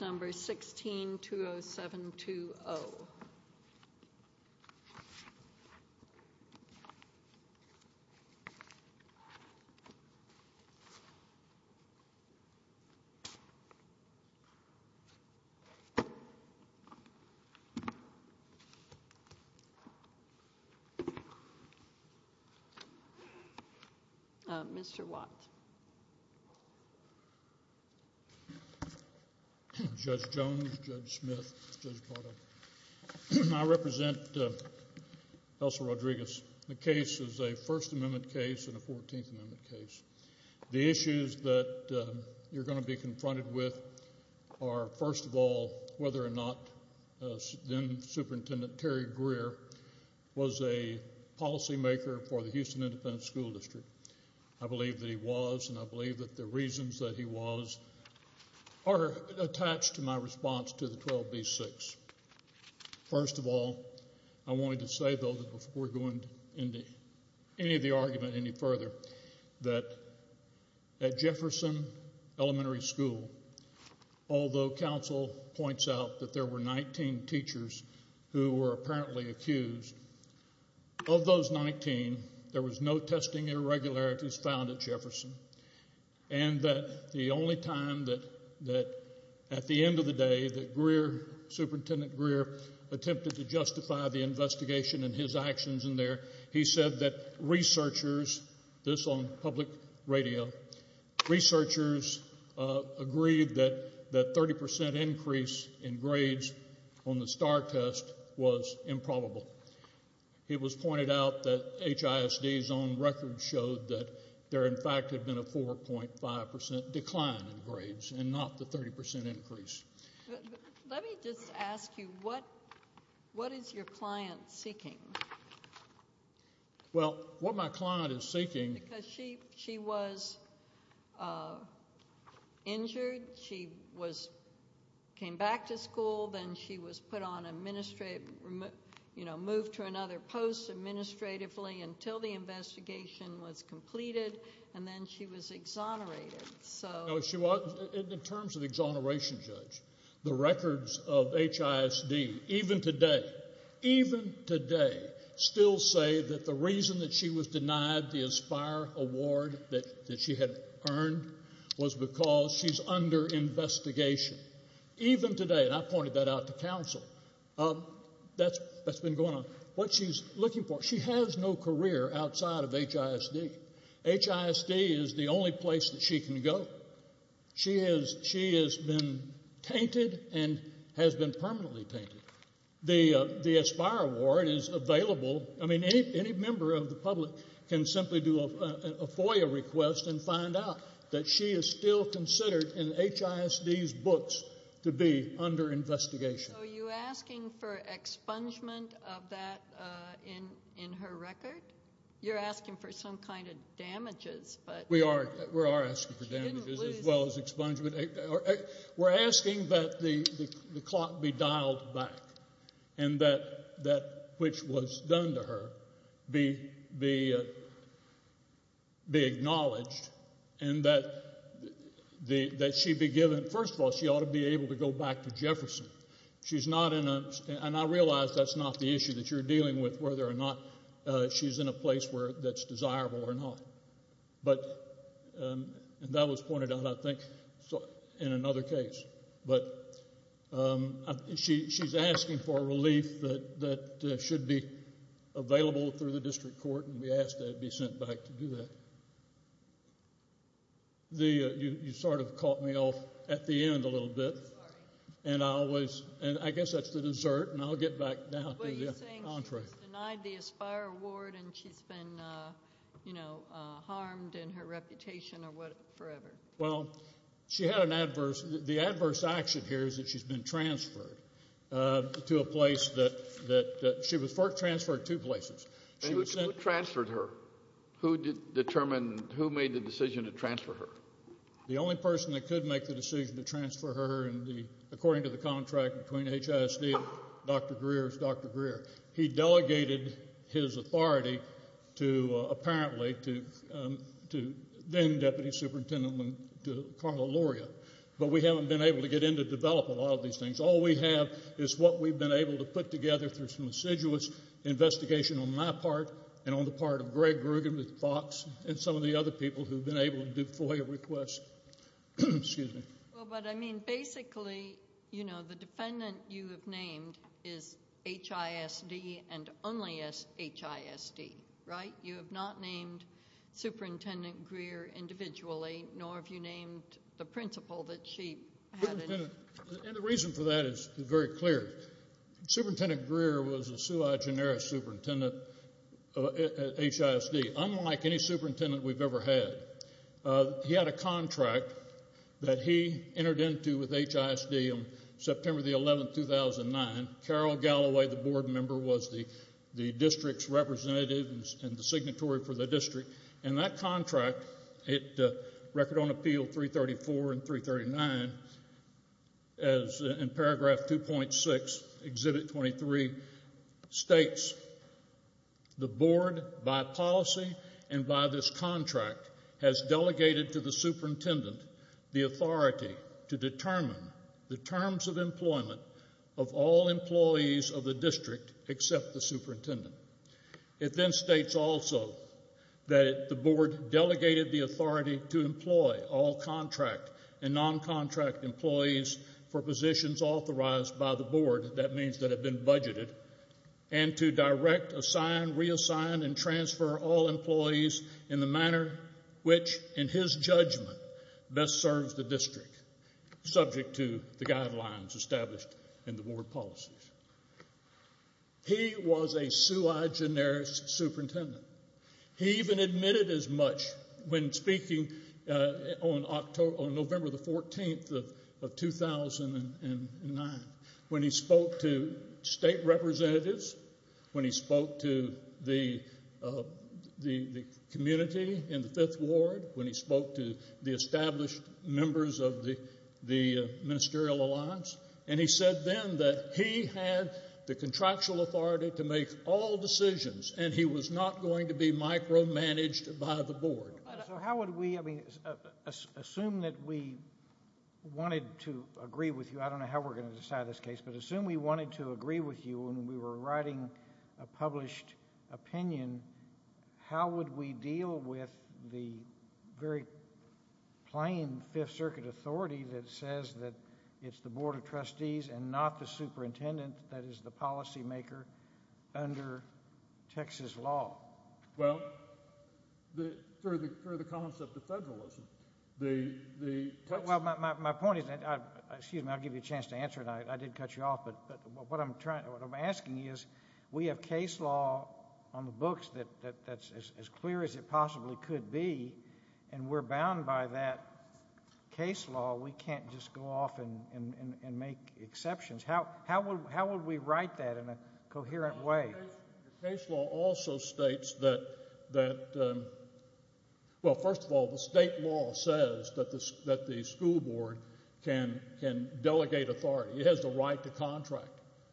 number 16 2 0 7 2 0. Mr. Watt. Judge Jones, Judge Smith, Judge Cordova. I represent Elsa Rodriguez. The case is a First Amendment case and a 14th Amendment case. The issues that you're going to be confronted with are, first of all, whether or not then-Superintendent Terry Greer was a policymaker for the Houston Independent School District. I believe that he was, and I believe that the reasons that he was are attached to my response to the 12b-6. First of all, I wanted to say, though, before going into any of the argument any further, that at Jefferson Elementary School, although counsel points out that there were 19 teachers who were apparently accused, of those 19, there was no testing irregularities found at Jefferson. And that the only time that, at the end of the day, that Greer, Superintendent Greer, attempted to justify the investigation and his actions in there, he said that researchers, this on public radio, researchers agreed that the 30% increase in grades on the STAR test was improbable. It was pointed out that HISD's own record showed that there, in fact, had been a 4.5% decline in grades, and not the 30% increase. Let me just ask you, what is your client seeking? Well, what my client is seeking. Because she was injured. She came back to school. Then she was put on administrative, moved to another post administratively until the investigation was completed. And then she was exonerated. In terms of exoneration, Judge, the records of HISD, even today, even today, still say that the reason that she was denied the Aspire Award that she had earned was because she's under investigation. Even today, and I pointed that out to counsel, that's been going on. What she's looking for, she has no career outside of HISD. HISD is the only place that she can go. She has been tainted and has been permanently tainted. The Aspire Award is available. I mean, any member of the public can simply do a FOIA request and find out that she is still considered in HISD's books to be under investigation. So you're asking for expungement of that in her record? You're asking for some kind of damages, but... We are asking for damages as well as expungement. We're asking that the clock be dialed back and that which was done to her be acknowledged and that she be given... First of all, she ought to be able to go back to Jefferson. She's not in a... And I realize that's not the issue that you're dealing with, whether or not she's in a place where that's desirable or not. But that was pointed out, I think, in another case. But she's asking for relief that should be available through the district court, and we ask that it be sent back to do that. You sort of caught me off at the end a little bit. And I guess that's the dessert, and I'll get back down to the entree. But you're saying she's denied the Aspire Award and she's been harmed in her reputation forever? Well, she had an adverse... The adverse action here is that she's been transferred to a place that... She was transferred two places. Who transferred her? Who determined... Who made the decision to transfer her? The only person that could make the decision to transfer her, according to the contract between HISD, Dr. Greer's Dr. Greer. He delegated his authority to, apparently, to then-Deputy Superintendent to Carla Luria. But we haven't been able to get in to develop a lot of these things. All we have is what we've been able to put together through some assiduous investigation on my part and on the part of Greg Grugan with FOX and some of the other people who've been able to do FOIA requests. Excuse me. Well, but, I mean, basically, you know, the defendant you have named is HISD and only HISD, right? You have not named Superintendent Greer individually, nor have you named the principal that she had in... And the reason for that is very clear. Superintendent Greer was a SUI generis superintendent at HISD, unlike any superintendent we've ever had. He had a contract that he entered into with HISD on September the 11th, 2009. Carol Galloway, the board member, was the district's representative and the signatory for the district. And that contract, Record on Appeal 334 and 339, as in paragraph 2.6, Exhibit 23, states, the board, by policy and by this contract, has delegated to the superintendent the authority to determine the terms of employment of all employees of the district except the superintendent. It then states also that the board delegated the authority to employ all contract and non-contract employees for positions authorized by the board, that means that have been budgeted, and to direct, assign, reassign, and transfer all employees in the manner which, in his judgment, best serves the district, subject to the guidelines established in the board policies. He was a sui generis superintendent. He even admitted as much when speaking on November the 14th of 2009, when he spoke to state representatives, when he spoke to the community in the 5th Ward, when he spoke to the established members of the ministerial alliance, and he said then that he had the contractual authority to make all decisions, and he was not going to be micromanaged by the board. So how would we, I mean, assume that we wanted to agree with you, I don't know how we're going to decide this case, but assume we wanted to agree with you when we were writing a published opinion, how would we deal with the very plain 5th Circuit authority that says that it's the board of trustees and not the superintendent that is the policymaker under Texas law? Well, for the concept of federalism, the Texas... Well, my point is that, excuse me, I'll give you a chance to answer, and I did cut you off, but what I'm asking is, we have case law on the books that's as clear as it possibly could be, and we're bound by that case law. We can't just go off and make exceptions. How would we write that in a coherent way? Case law also states that... Well, first of all, the state law says that the school board can delegate authority. It has the right to contract.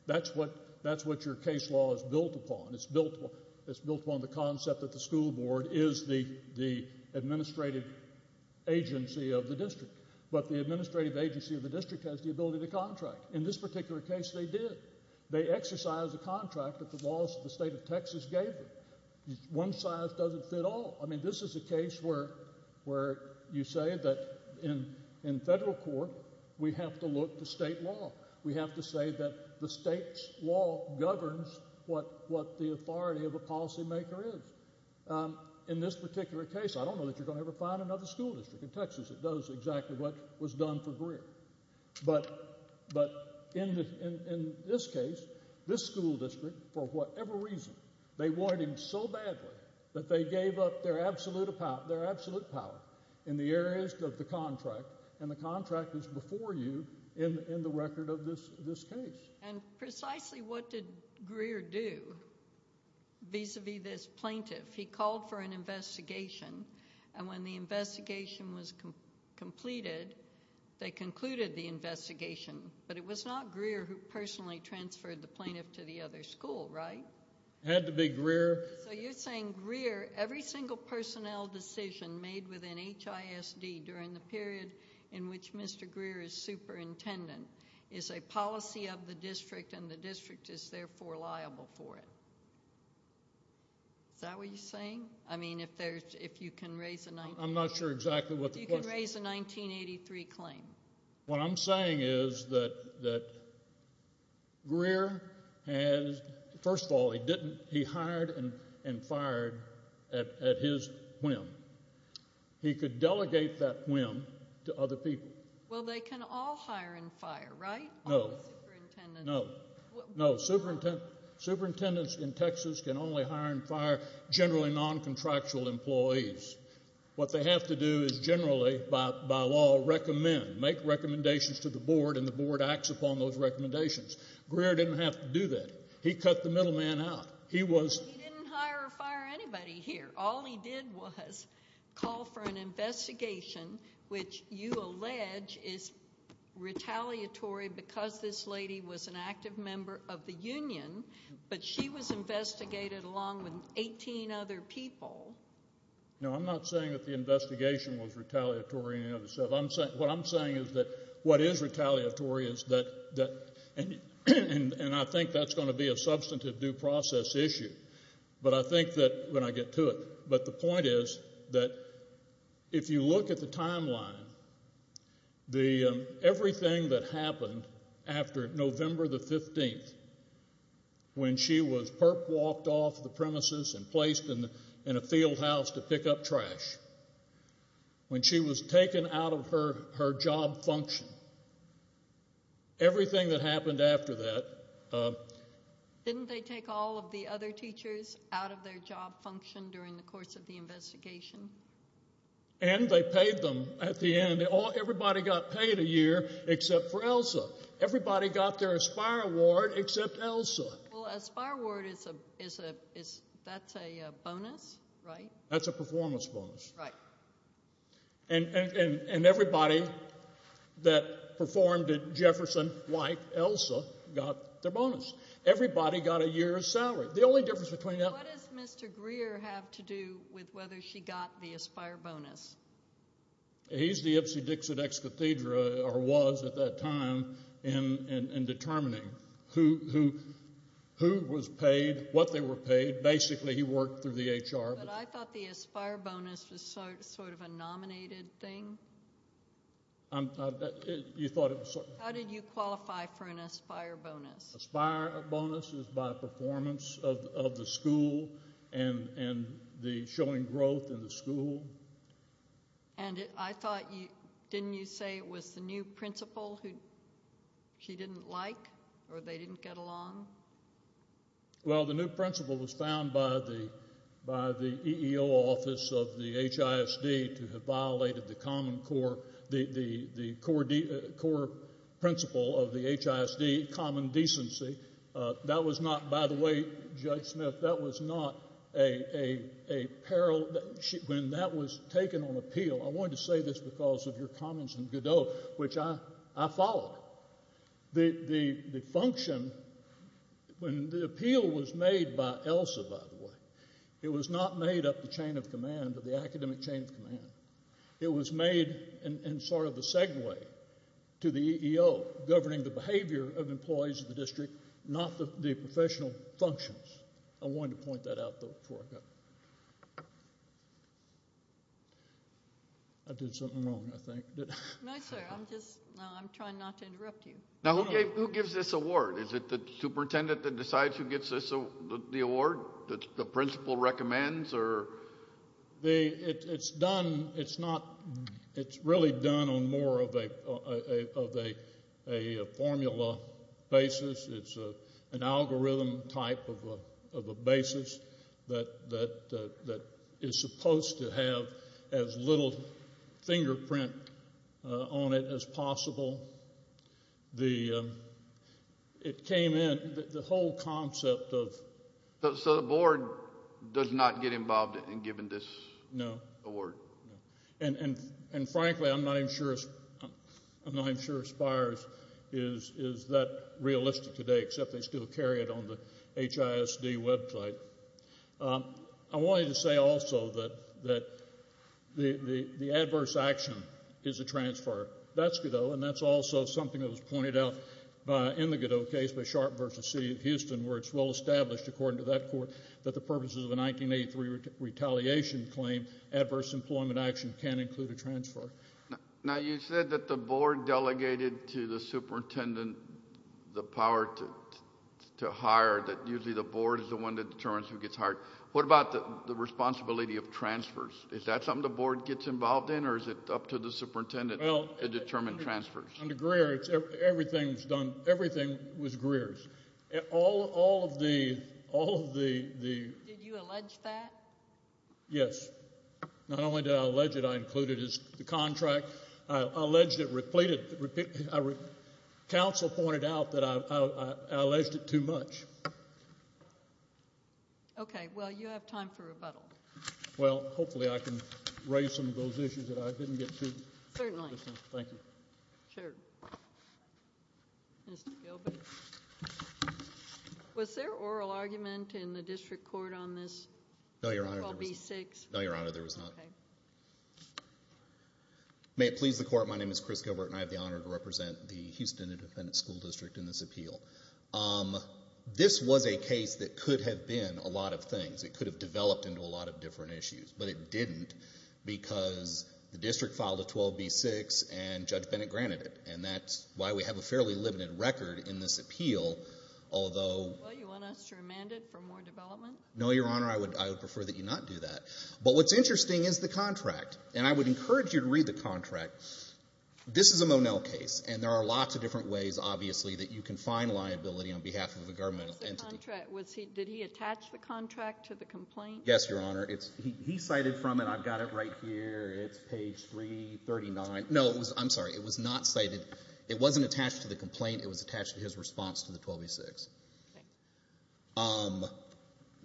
That's what your case law is built upon. It's built on the concept that the school board is the administrative agency of the district, but the administrative agency of the district has the ability to contract. In this particular case, they did. They exercised a contract that the laws of the state of Texas gave them. One size doesn't fit all. I mean, this is a case where you say that in federal court, we have to look to state law. We have to say that the state's law governs what the authority of a policymaker is. In this particular case, I don't know that you're going to ever find another school district in Texas that does exactly what was done for Greer, but in this case, this school district, for whatever reason, they wanted him so badly that they gave up their absolute power in the areas of the contract, and the contract is before you in the record of this case. And precisely what did Greer do vis-a-vis this plaintiff? He called for an investigation, and when the investigation was completed, they concluded the investigation, but it was not Greer who personally transferred the plaintiff to the other school, right? Had to be Greer. So you're saying Greer, every single personnel decision made within HISD during the period in which Mr. Greer is superintendent is a policy of the district, and the district is therefore liable for it. Is that what you're saying? I mean, if you can raise a 1983 claim. I'm not sure exactly what the question is. If you can raise a 1983 claim. What I'm saying is that Greer has, first of all, he hired and fired at his whim. He could delegate that whim to other people. Well, they can all hire and fire, right? No. All the superintendents. No, no, superintendents in Texas can only hire and fire generally non-contractual employees. What they have to do is generally, by law, recommend, make recommendations to the board, and the board acts upon those recommendations. Greer didn't have to do that. He cut the middleman out. He was- He didn't hire or fire anybody here. All he did was call for an investigation, which you allege is retaliatory because this lady was an active member of the union, but she was investigated along with 18 other people. No, I'm not saying that the investigation was retaliatory in any other sense. What I'm saying is that what is retaliatory is that, and I think that's gonna be a substantive due process issue, but I think that, when I get to it, but the point is that if you look at the timeline, everything that happened after November the 15th, when she was perp-walked off the premises and placed in a field house to pick up trash, when she was taken out of her job function, everything that happened after that- Didn't they take all of the other teachers out of their job function during the course of the investigation? And they paid them at the end. Everybody got paid a year except for Elsa. Everybody got their Aspire Award except Elsa. Well, Aspire Award, that's a bonus, right? That's a performance bonus. Right. And everybody that performed at Jefferson, like Elsa, got their bonus. Everybody got a year's salary. The only difference between that- What does Mr. Greer have to do with whether she got the Aspire Bonus? He's the Ipsy Dixit ex cathedra, or was at that time, in determining who was paid, what they were paid. Basically, he worked through the HR. But I thought the Aspire Bonus was sort of a nominated thing. You thought it was- How did you qualify for an Aspire Bonus? Aspire Bonus is by performance of the school and the showing growth in the school. And I thought, didn't you say it was the new principal who she didn't like, or they didn't get along? Well, the new principal was found by the EEO office of the HISD to have violated the common core, the core principle of the HISD, common decency. That was not, by the way, Judge Smith, that was not a peril. When that was taken on appeal, I wanted to say this because of your comments in Godot, which I followed. The function, when the appeal was made by ELSA, by the way, it was not made up the chain of command, of the academic chain of command. It was made in sort of a segue to the EEO, governing the behavior of employees of the district, not the professional functions. I wanted to point that out, though, before I go. I did something wrong, I think. No, sir, I'm just, I'm trying not to interrupt you. Now, who gives this award? Is it the superintendent that decides who gets the award? The principal recommends, or? It's done, it's not, it's really done on more of a formula basis. It's an algorithm type of a basis that is supposed to have as little fingerprint on it as possible. It came in, the whole concept of. So the board does not get involved in giving this award? No, and frankly, I'm not even sure, I'm not even sure Spires is that realistic today, except they still carry it on the HISD website. I wanted to say also that the adverse action is a transfer. That's Godot, and that's also something that was pointed out in the Godot case by Sharp v. City of Houston, where it's well established, according to that court, that the purposes of a 1983 retaliation claim, adverse employment action can include a transfer. Now, you said that the board delegated to the superintendent the power to hire, that usually the board is the one that determines who gets hired. What about the responsibility of transfers? Is that something the board gets involved in, or is it up to the superintendent to determine transfers? Under Greer, everything was Greer's. Did you allege that? Yes, not only did I allege it, but I included it as the contract. I alleged it, repeated it. Council pointed out that I alleged it too much. Okay, well, you have time for rebuttal. Well, hopefully I can raise some of those issues that I didn't get to. Certainly. Thank you. Sure. Mr. Gilbert. Was there oral argument in the district court on this? No, Your Honor. B-6? No, Your Honor, there was not. May it please the court, my name is Chris Gilbert, and I have the honor to represent the Houston Independent School District in this appeal. This was a case that could have been a lot of things. It could have developed into a lot of different issues, but it didn't because the district filed a 12B-6 and Judge Bennett granted it, and that's why we have a fairly limited record in this appeal, although- Well, you want us to remand it for more development? No, Your Honor, I would prefer that you not do that. But what's interesting is the contract, and I would encourage you to read the contract. This is a Monell case, and there are lots of different ways, obviously, that you can find liability on behalf of a governmental entity. Where's the contract? Did he attach the contract to the complaint? Yes, Your Honor. He cited from it, I've got it right here. It's page 339. No, I'm sorry, it was not cited. It wasn't attached to the complaint, it was attached to his response to the 12B-6. Okay.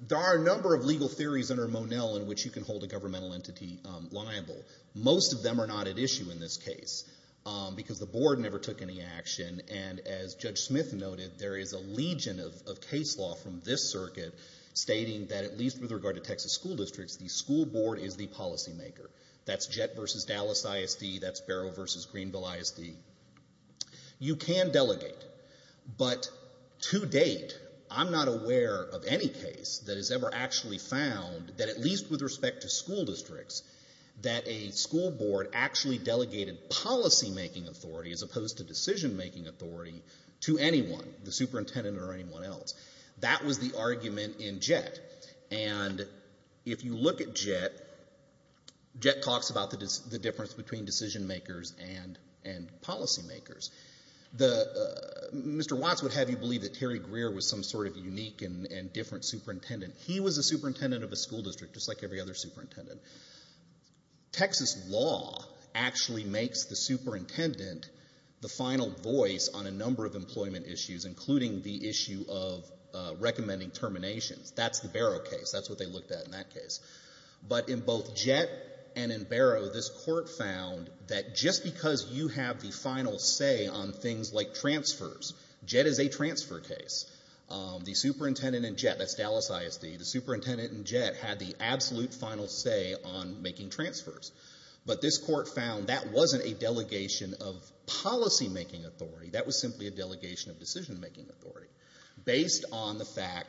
There are a number of legal theories under Monell in which you can hold a governmental entity liable. Most of them are not at issue in this case because the board never took any action, and as Judge Smith noted, there is a legion of case law from this circuit stating that at least with regard to Texas school districts, the school board is the policymaker. That's Jett versus Dallas ISD, that's Barrow versus Greenville ISD. You can delegate, but to date, I'm not aware of any case that has ever actually found that at least with respect to school districts, that a school board actually delegated policymaking authority as opposed to decision-making authority to anyone, the superintendent or anyone else. That was the argument in Jett, and if you look at Jett, Jett talks about the difference between decision-makers and policymakers. Mr. Watts would have you believe that Terry Greer was some sort of unique and different superintendent. He was a superintendent of a school district, just like every other superintendent. Texas law actually makes the superintendent the final voice on a number of employment issues, including the issue of recommending terminations. That's the Barrow case, that's what they looked at in that case. But in both Jett and in Barrow, this court found that just because you have the final say on things like transfers, Jett is a transfer case, the superintendent in Jett, that's Dallas ISD, the superintendent in Jett had the absolute final say on making transfers. But this court found that wasn't a delegation of policymaking authority, that was simply a delegation of decision-making authority based on the fact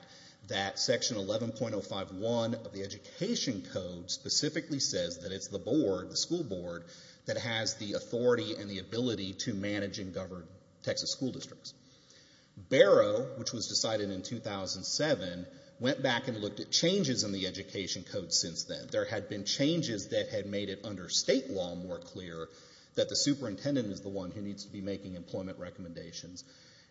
that section 11.051 of the Education Code specifically says that it's the board, the school board, that has the authority and the ability to manage and govern Texas school districts. Barrow, which was decided in 2007, went back and looked at changes in the Education Code since then. There had been changes that had made it under state law more clear that the superintendent is the one who needs to be making employment recommendations.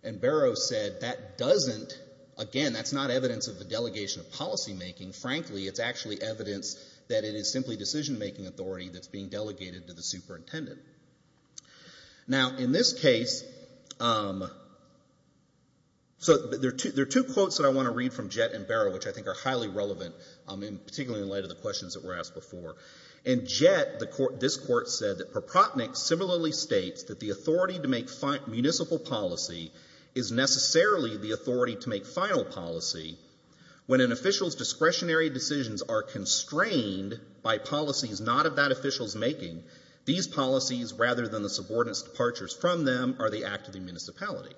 And Barrow said that doesn't, again, that's not evidence of the delegation of policymaking. Frankly, it's actually evidence that it is simply decision-making authority that's being delegated to the superintendent. Now, in this case, so there are two quotes that I want to read from Jett and Barrow, which I think are highly relevant, particularly in light of the questions that were asked before. In Jett, this court said that Papropnik similarly states that the authority to make municipal policy is necessarily the authority to make final policy when an official's discretionary decisions are constrained by policies not of that official's making. These policies, rather than the subordinate's departures from them, are the act of the municipality.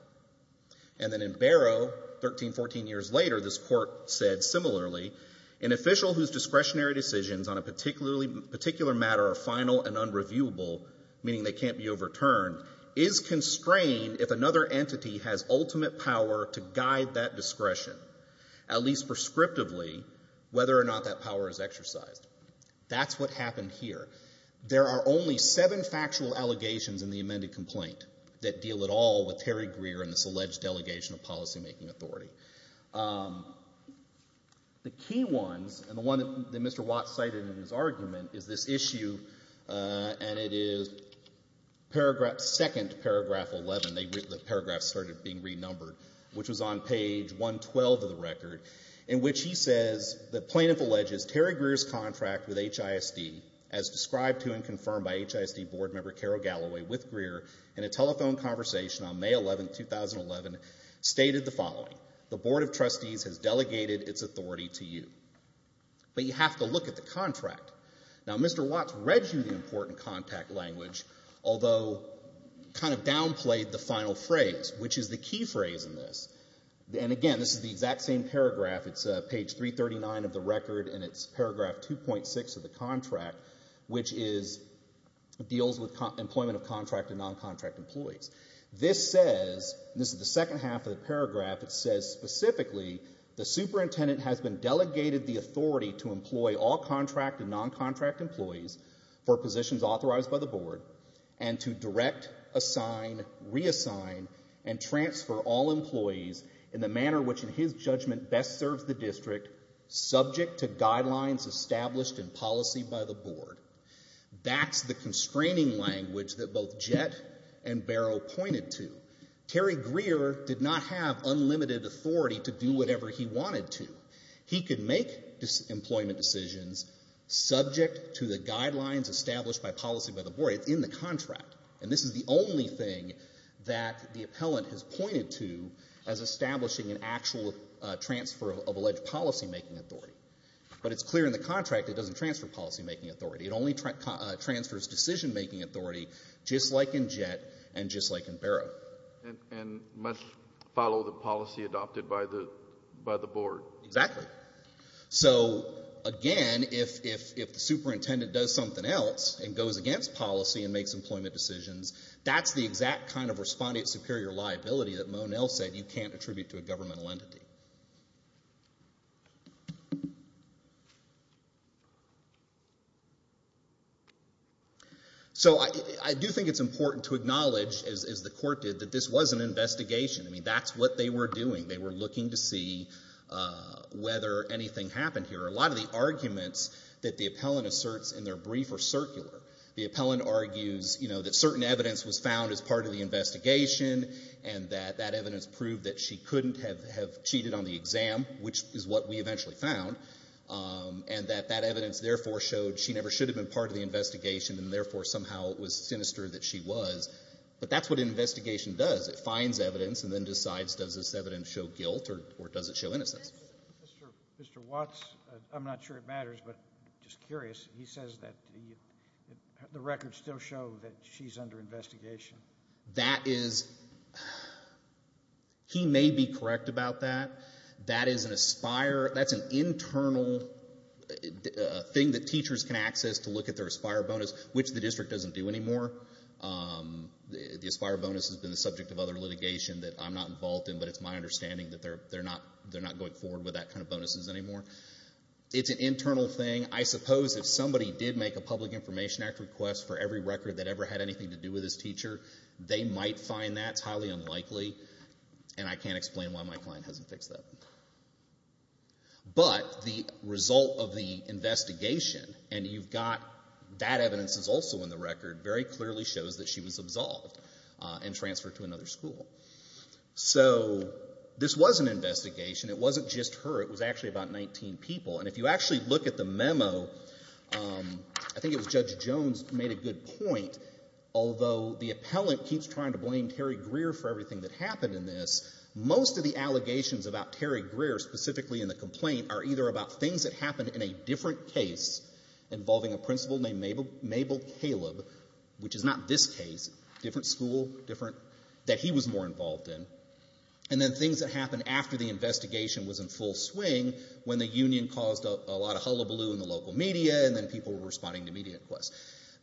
And then in Barrow, 13, 14 years later, this court said similarly, an official whose discretionary decisions on a particular matter are final and unreviewable, meaning they can't be overturned, is constrained if another entity has ultimate power to guide that discretion, at least prescriptively, whether or not that power is exercised. That's what happened here. There are only seven factual allegations in the amended complaint that deal at all with Terry Greer and this alleged delegation of policymaking authority. The key ones, and the one that Mr. Watts cited in his argument, is this issue, and it is second to paragraph 11, the paragraphs started being renumbered, which was on page 112 of the record, in which he says, the plaintiff alleges, Terry Greer's contract with HISD, as described to and confirmed by HISD board member Carol Galloway, with Greer, in a telephone conversation on May 11th, 2011, stated the following. The board of trustees has delegated its authority to you. But you have to look at the contract. Now, Mr. Watts read you the important contact language, although kind of downplayed the final phrase, which is the key phrase in this. And again, this is the exact same paragraph, it's page 339 of the record, and it's paragraph 2.6 of the contract, which deals with employment of contract and non-contract employees. This says, this is the second half of the paragraph, it says specifically, the superintendent has been delegated the authority to employ all contract and non-contract employees for positions authorized by the board, and to direct, assign, reassign, and transfer all employees in the manner which, in his judgment, best serves the district, subject to guidelines established in policy by the board. That's the constraining language that both Jett and Barrow pointed to. Terry Greer did not have unlimited authority to do whatever he wanted to. He could make employment decisions subject to the guidelines established by policy by the board, it's in the contract. And this is the only thing that the appellant has pointed to as establishing an actual transfer of alleged policy-making authority. But it's clear in the contract it doesn't transfer policy-making authority. It only transfers decision-making authority, just like in Jett, and just like in Barrow. And must follow the policy adopted by the board. Exactly. So, again, if the superintendent does something else and goes against policy and makes employment decisions, that's the exact kind of respondent-superior liability that Monell said you can't attribute to a governmental entity. So I do think it's important to acknowledge, as the court did, that this was an investigation. I mean, that's what they were doing. They were looking to see whether anything happened here. A lot of the arguments that the appellant asserts in their brief are circular. The appellant argues that certain evidence was found as part of the investigation, and that that evidence proved that she couldn't have cheated on the exam, which is what we eventually found. And that that evidence, therefore, showed she never should have been part of the investigation, and therefore, somehow, it was sinister that she was. But that's what an investigation does. It finds evidence, and then decides, does this evidence show guilt, or does it show innocence? Mr. Watts, I'm not sure it matters, but just curious. He says that the records still show that she's under investigation. That is, he may be correct about that. That is an aspire, that's an internal thing that teachers can access to look at their aspire bonus, which the district doesn't do anymore. The aspire bonus has been the subject of other litigation that I'm not involved in, but it's my understanding that they're not going forward with that kind of bonuses anymore. It's an internal thing. I suppose if somebody did make a Public Information Act request for every record that ever had anything to do with his teacher, they might find that. It's highly unlikely, and I can't explain why my client hasn't fixed that. But the result of the investigation, and you've got that evidence is also in the record, very clearly shows that she was absolved and transferred to another school. So this was an investigation. It wasn't just her. It was actually about 19 people. And if you actually look at the memo, I think it was Judge Jones made a good point. Although the appellant keeps trying to blame Terry Greer for everything that happened in this, most of the allegations about Terry Greer, specifically in the complaint, are either about things that happened in a different case involving a principal named Mabel Caleb, which is not this case, different school, different, that he was more involved in. And then things that happened after the investigation was in full swing, when the union caused a lot of hullabaloo in the local media, and then people were responding to media requests.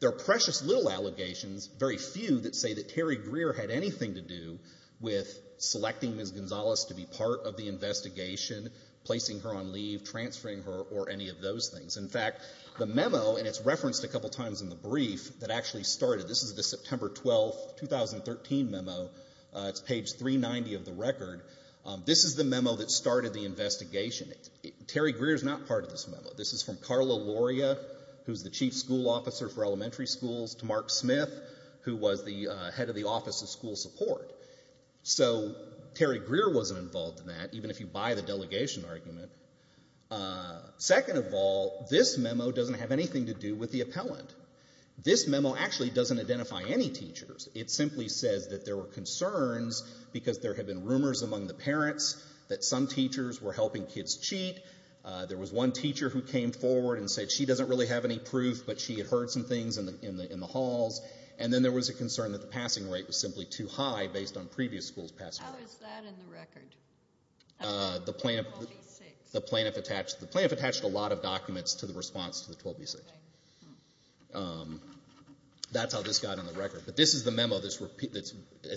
There are precious little allegations, very few, that say that Terry Greer had anything to do with selecting Ms. Gonzalez to be part of the investigation, placing her on leave, transferring her, or any of those things. In fact, the memo, and it's referenced a couple times in the brief, that actually started, this is the September 12, 2013 memo. It's page 390 of the record. This is the memo that started the investigation. Terry Greer's not part of this memo. This is from Carla Loria, who's the chief school officer for elementary schools, to Mark Smith, who was the head of the Office of School Support. So Terry Greer wasn't involved in that, even if you buy the delegation argument. Second of all, this memo doesn't have anything to do with the appellant. This memo actually doesn't identify any teachers. It simply says that there were concerns because there have been rumors among the parents that some teachers were helping kids cheat. There was one teacher who came forward and said she doesn't really have any proof, but she had heard some things in the halls. And then there was a concern that the passing rate was simply too high based on previous schools passing. How is that in the record? The plaintiff attached a lot of documents to the response to the 12B6. That's how this got on the record. But this is the memo that's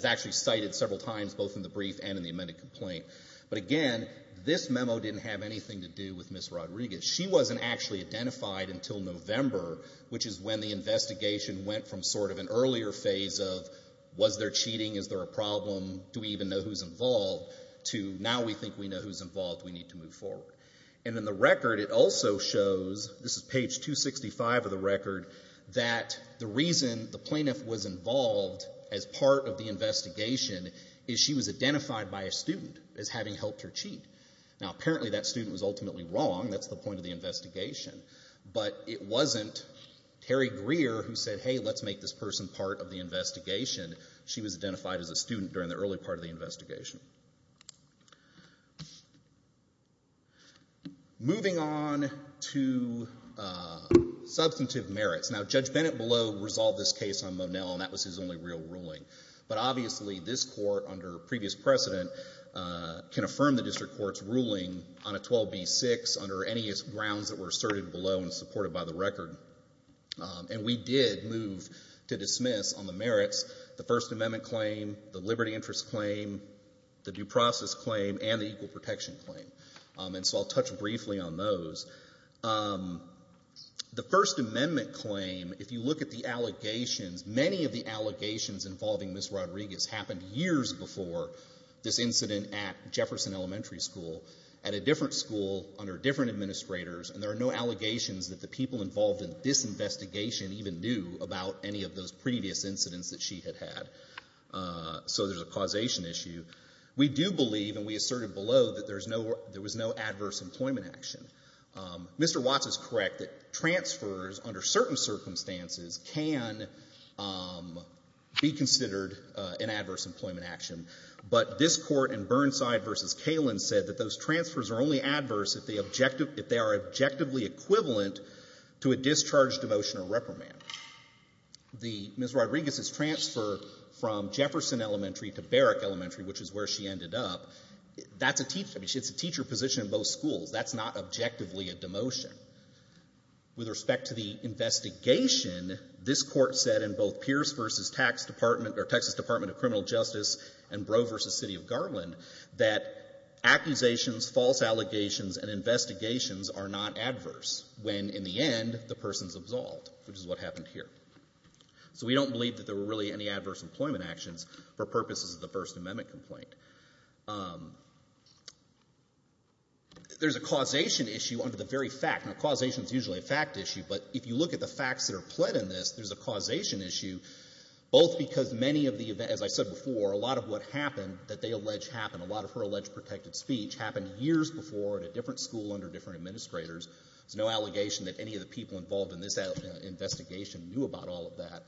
actually cited several times, both in the brief and in the amended complaint. But again, this memo didn't have anything to do with Ms. Rodriguez. She wasn't actually identified until November, which is when the investigation went from sort of an earlier phase of was there cheating, is there a problem, do we even know who's involved, to now we think we know who's involved, we need to move forward. And in the record, it also shows, this is page 265 of the record, that the reason the plaintiff was involved as part of the investigation is she was identified by a student as having helped her cheat. Now apparently that student was ultimately wrong, that's the point of the investigation. But it wasn't Terry Greer who said, hey, let's make this person part of the investigation. She was identified as a student during the early part of the investigation. Moving on to substantive merits. Now Judge Bennett below resolved this case on Monell, and that was his only real ruling. But obviously this court, under previous precedent, can affirm the district court's ruling on a 12b-6 under any grounds that were asserted below and supported by the record. And we did move to dismiss on the merits, the First Amendment claim, the Liberty Interest claim, the Due Process claim, and the Equal Protection claim. And so I'll touch briefly on those. The First Amendment claim, if you look at the allegations, many of the allegations involving Ms. Rodriguez happened years before this incident at Jefferson Elementary School, at a different school, under different administrators, and there are no allegations that the people involved in this investigation even knew about any of those previous incidents that she had had. So there's a causation issue. We do believe, and we asserted below, that there was no adverse employment action. Mr. Watts is correct that transfers, under certain circumstances, can be considered an adverse employment action. But this court, in Burnside v. Kalen, said that those transfers are only adverse if they are objectively equivalent to a discharge, demotion, or reprimand. Ms. Rodriguez's transfer from Jefferson Elementary to Barrack Elementary, which is where she ended up, that's a teacher position in both schools. That's not objectively a demotion. With respect to the investigation, this court said in both Pierce v. Texas Department of Criminal Justice and Brough v. City of Garland that accusations, false allegations, and investigations are not adverse when, in the end, the person's absolved, which is what happened here. So we don't believe that there were really any adverse employment actions for purposes of the First Amendment complaint. There's a causation issue under the very fact causation's usually a fact issue, but if you look at the facts that are pled in this, there's a causation issue, both because many of the, as I said before, a lot of what happened that they allege happened, a lot of her alleged protected speech happened years before at a different school under different administrators. There's no allegation that any of the people involved in this investigation knew about all of that.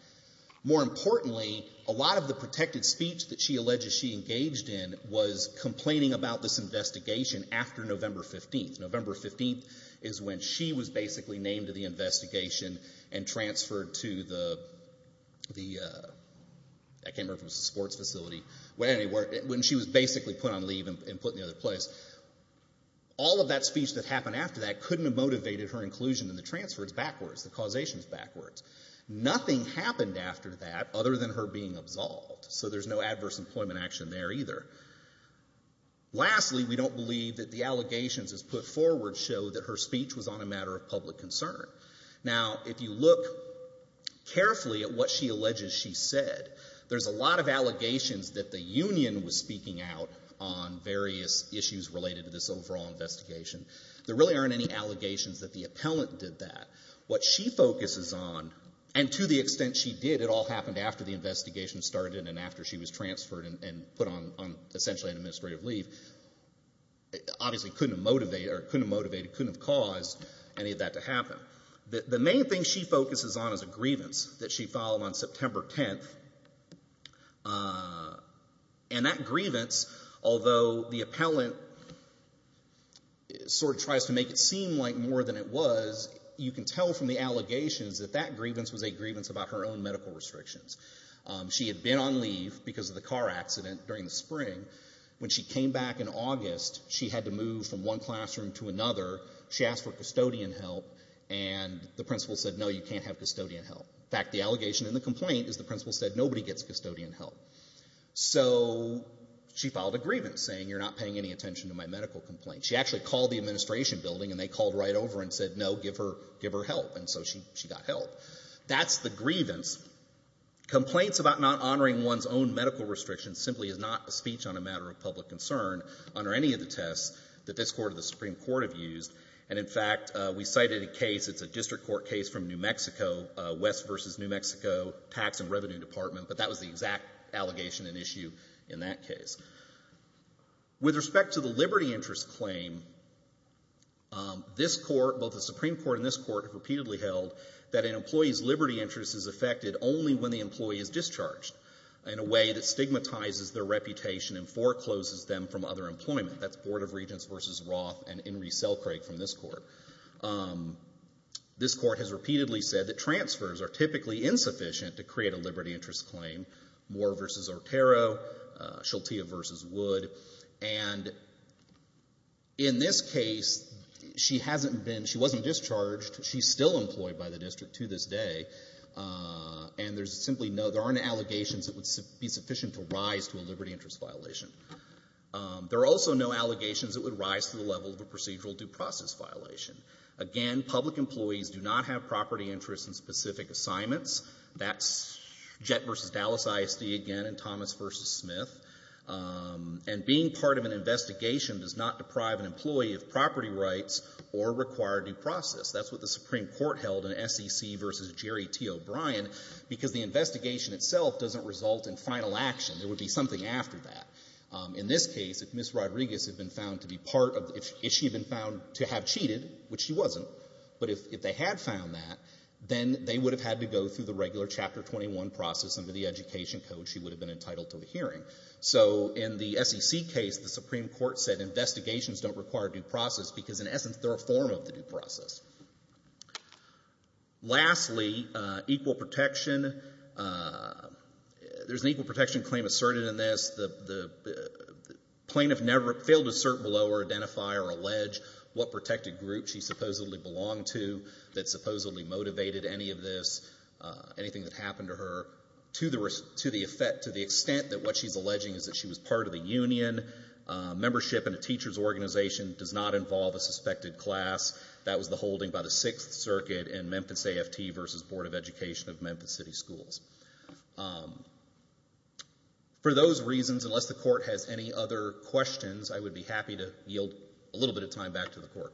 More importantly, a lot of the protected speech that she alleges she engaged in was complaining about this investigation after November 15th. November 15th is when she was basically named to the investigation and transferred to the, I can't remember if it was the sports facility, when she was basically put on leave and put in the other place. All of that speech that happened after that couldn't have motivated her inclusion in the transfers backwards, the causations backwards. Nothing happened after that other than her being absolved, so there's no adverse employment action there either. Lastly, we don't believe that the allegations as put forward show that her speech was on a matter of public concern. Now, if you look carefully at what she alleges she said, there's a lot of allegations that the union was speaking out on various issues related to this overall investigation. There really aren't any allegations that the appellant did that. What she focuses on, and to the extent she did, it all happened after the investigation started and after she was transferred and put on essentially an administrative leave, it obviously couldn't have motivated, or couldn't have motivated, couldn't have caused any of that to happen. The main thing she focuses on is a grievance that she filed on September 10th, and that grievance, although the appellant sort of tries to make it seem like more than it was, you can tell from the allegations that that grievance was a grievance about her own medical restrictions. She had been on leave because of the car accident during the spring. When she came back in August, she had to move from one classroom to another. She asked for custodian help, and the principal said, no, you can't have custodian help. In fact, the allegation in the complaint is the principal said, nobody gets custodian help. So she filed a grievance saying, you're not paying any attention to my medical complaint. She actually called the administration building, and they called right over and said, no, give her help, and so she got help. That's the grievance. Complaints about not honoring one's own medical restrictions simply is not a speech on a matter of public concern under any of the tests that this court or the Supreme Court have used. And in fact, we cited a case, it's a district court case from New Mexico, West versus New Mexico Tax and Revenue Department, but that was the exact allegation and issue in that case. With respect to the liberty interest claim, this court, both the Supreme Court and this court have repeatedly held that an employee's liberty interest is affected only when the employee is discharged in a way that stigmatizes their reputation and forecloses them from other employment. That's Board of Regents versus Roth and Inree Selkrieg from this court. This court has repeatedly said that transfers are typically insufficient to create a liberty interest claim. Moore versus Ortero, Sheltia versus Wood. And in this case, she hasn't been, she wasn't discharged. She's still employed by the district to this day. And there's simply no, there aren't any allegations that would be sufficient to rise to a liberty interest violation. There are also no allegations that would rise to the level of a procedural due process violation. Again, public employees do not have property interests in specific assignments. That's Jett versus Dallas ISD again, and Thomas versus Smith. And being part of an investigation does not deprive an employee of property rights or require due process. That's what the Supreme Court held in SEC versus Jerry T. O'Brien, because the investigation itself doesn't result in final action. There would be something after that. In this case, if Ms. Rodriguez had been found to be part of, if she had been found to have cheated, which she wasn't, but if they had found that, then they would have had to go through the regular Chapter 21 process under the Education Code. She would have been entitled to a hearing. So in the SEC case, the Supreme Court said investigations don't require due process because in essence, they're a form of the due process. Lastly, equal protection. There's an equal protection claim asserted in this. The plaintiff failed to assert below or identify or allege what protected group she supposedly belonged to that supposedly motivated any of this, anything that happened to her, to the extent that what she's alleging is that she was part of the union. Membership in a teacher's organization does not involve a suspected class. That was the holding by the Sixth Circuit in Memphis AFT versus Board of Education of Memphis City Schools. For those reasons, unless the court has any other questions, I would be happy to yield a little bit of time back to the court.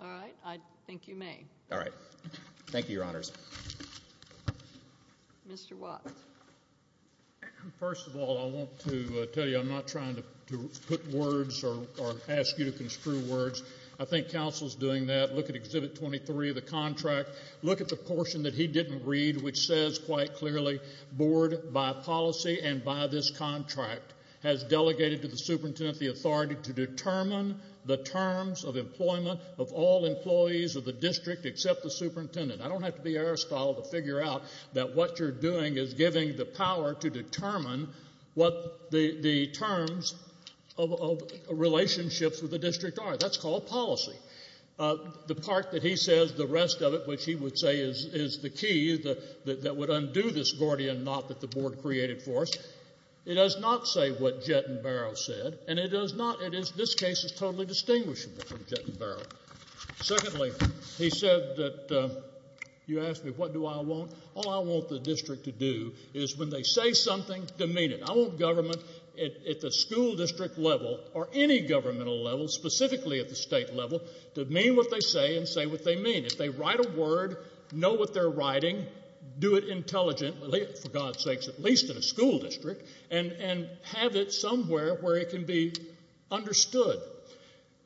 All right, I think you may. All right, thank you, Your Honors. Mr. Watts. First of all, I want to tell you, I'm not trying to put words or ask you to construe words. I think counsel's doing that. Look at Exhibit 23 of the contract. Look at the portion that he didn't read which says quite clearly, board by policy and by this contract has delegated to the superintendent the authority to determine the terms of employment of all employees of the district except the superintendent. I don't have to be Aristotle to figure out that what you're doing is giving the power to determine what the terms of relationships with the district are, that's called policy. The part that he says, the rest of it, which he would say is the key that would undo this Gordian knot that the board created for us, it does not say what Jett and Barrow said, and it does not, this case is totally distinguishable from Jett and Barrow. Secondly, he said that, you asked me what do I want? All I want the district to do is when they say something, demean it. I want government at the school district level or any governmental level, specifically at the state level, to demean what they say and say what they mean. If they write a word, know what they're writing, do it intelligently, for God's sakes, at least in a school district, and have it somewhere where it can be understood.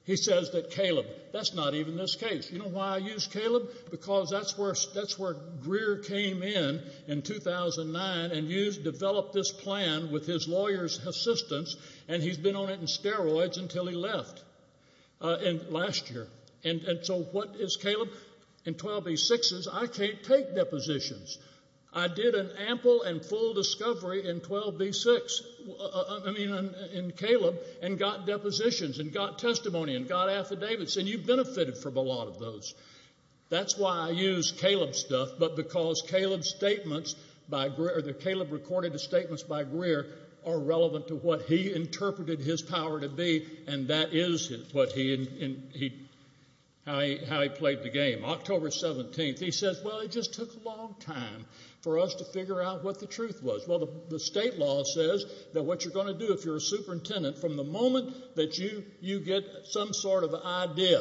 He says that Caleb, that's not even this case. You know why I use Caleb? Because that's where Greer came in in 2009 and developed this plan with his lawyer's assistance, and he's been on it in steroids until he left last year. And so what is Caleb? In 12B6s, I can't take depositions. I did an ample and full discovery in 12B6, I mean in Caleb, and got depositions, and got testimony, and got affidavits, and you benefited from a lot of those. That's why I use Caleb's stuff, but because Caleb's statements by Greer, Caleb recorded the statements by Greer are relevant to what he interpreted his power to be, and that is what he, how he played the game. October 17th, he says, well, it just took a long time for us to figure out what the truth was. Well, the state law says that what you're gonna do if you're a superintendent, from the moment that you get some sort of idea,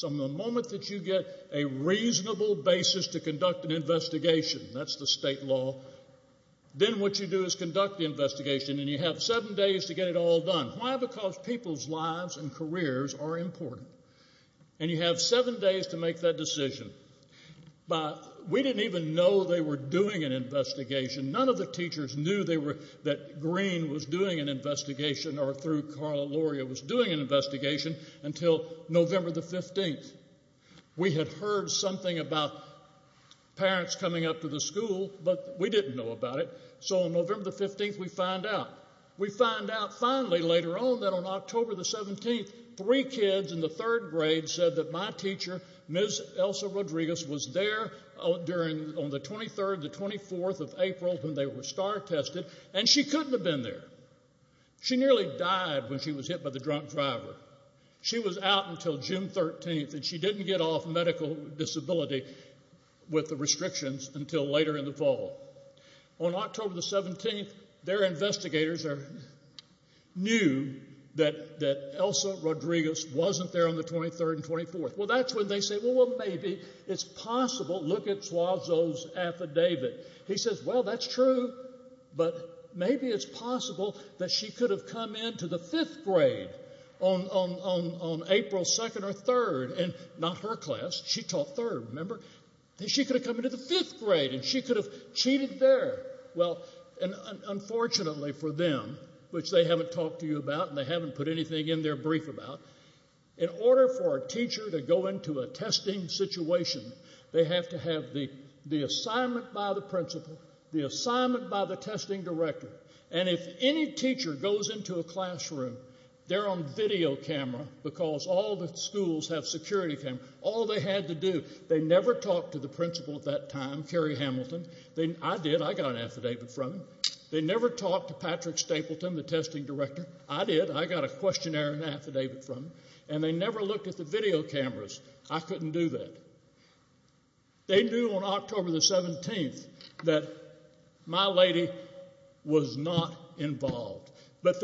from the moment that you get a reasonable basis to conduct an investigation, that's the state law, then what you do is conduct the investigation, and you have seven days to get it all done. Why? Because people's lives and careers are important. And you have seven days to make that decision. But we didn't even know they were doing an investigation. None of the teachers knew they were, that Greer was doing an investigation, or through Carla Luria was doing an investigation, until November the 15th. We had heard something about parents coming up to the school, but we didn't know about it. So on November the 15th, we find out. We find out finally, later on, that on October the 17th, three kids in the third grade said that my teacher, Ms. Elsa Rodriguez, was there during, on the 23rd, the 24th of April, when they were star tested, and she couldn't have been there. She nearly died when she was hit by the drunk driver. She was out until June 13th, and she didn't get off medical disability with the restrictions until later in the fall. On October the 17th, their investigators knew that Elsa Rodriguez wasn't there on the 23rd and 24th. Well, that's when they said, well, maybe it's possible, look at Suazo's affidavit. He says, well, that's true, but maybe it's possible that she could have come into the fifth grade on April 2nd or 3rd, and not her class, she taught third, remember? That she could have come into the fifth grade, and she could have cheated there. Well, and unfortunately for them, which they haven't talked to you about, and they haven't put anything in there brief about, in order for a teacher to go into a testing situation, they have to have the assignment by the principal, the assignment by the testing director, and if any teacher goes into a classroom, they're on video camera, because all the schools have security cameras. All they had to do, they never talked to the principal at that time, Kerry Hamilton, I did, I got an affidavit from him. They never talked to Patrick Stapleton, the testing director, I did, I got a questionnaire and affidavit from him, and they never looked at the video cameras. I couldn't do that. They knew on October the 17th that my lady was not involved, but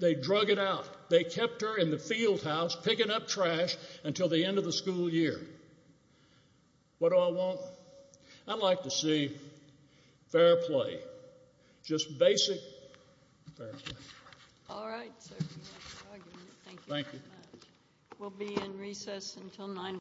they drug it out. They kept her in the field house, picking up trash until the end of the school year. What do I want? I'd like to see fair play, just basic fair play. All right, sir, we have no argument. Thank you very much. We'll be in recess until nine.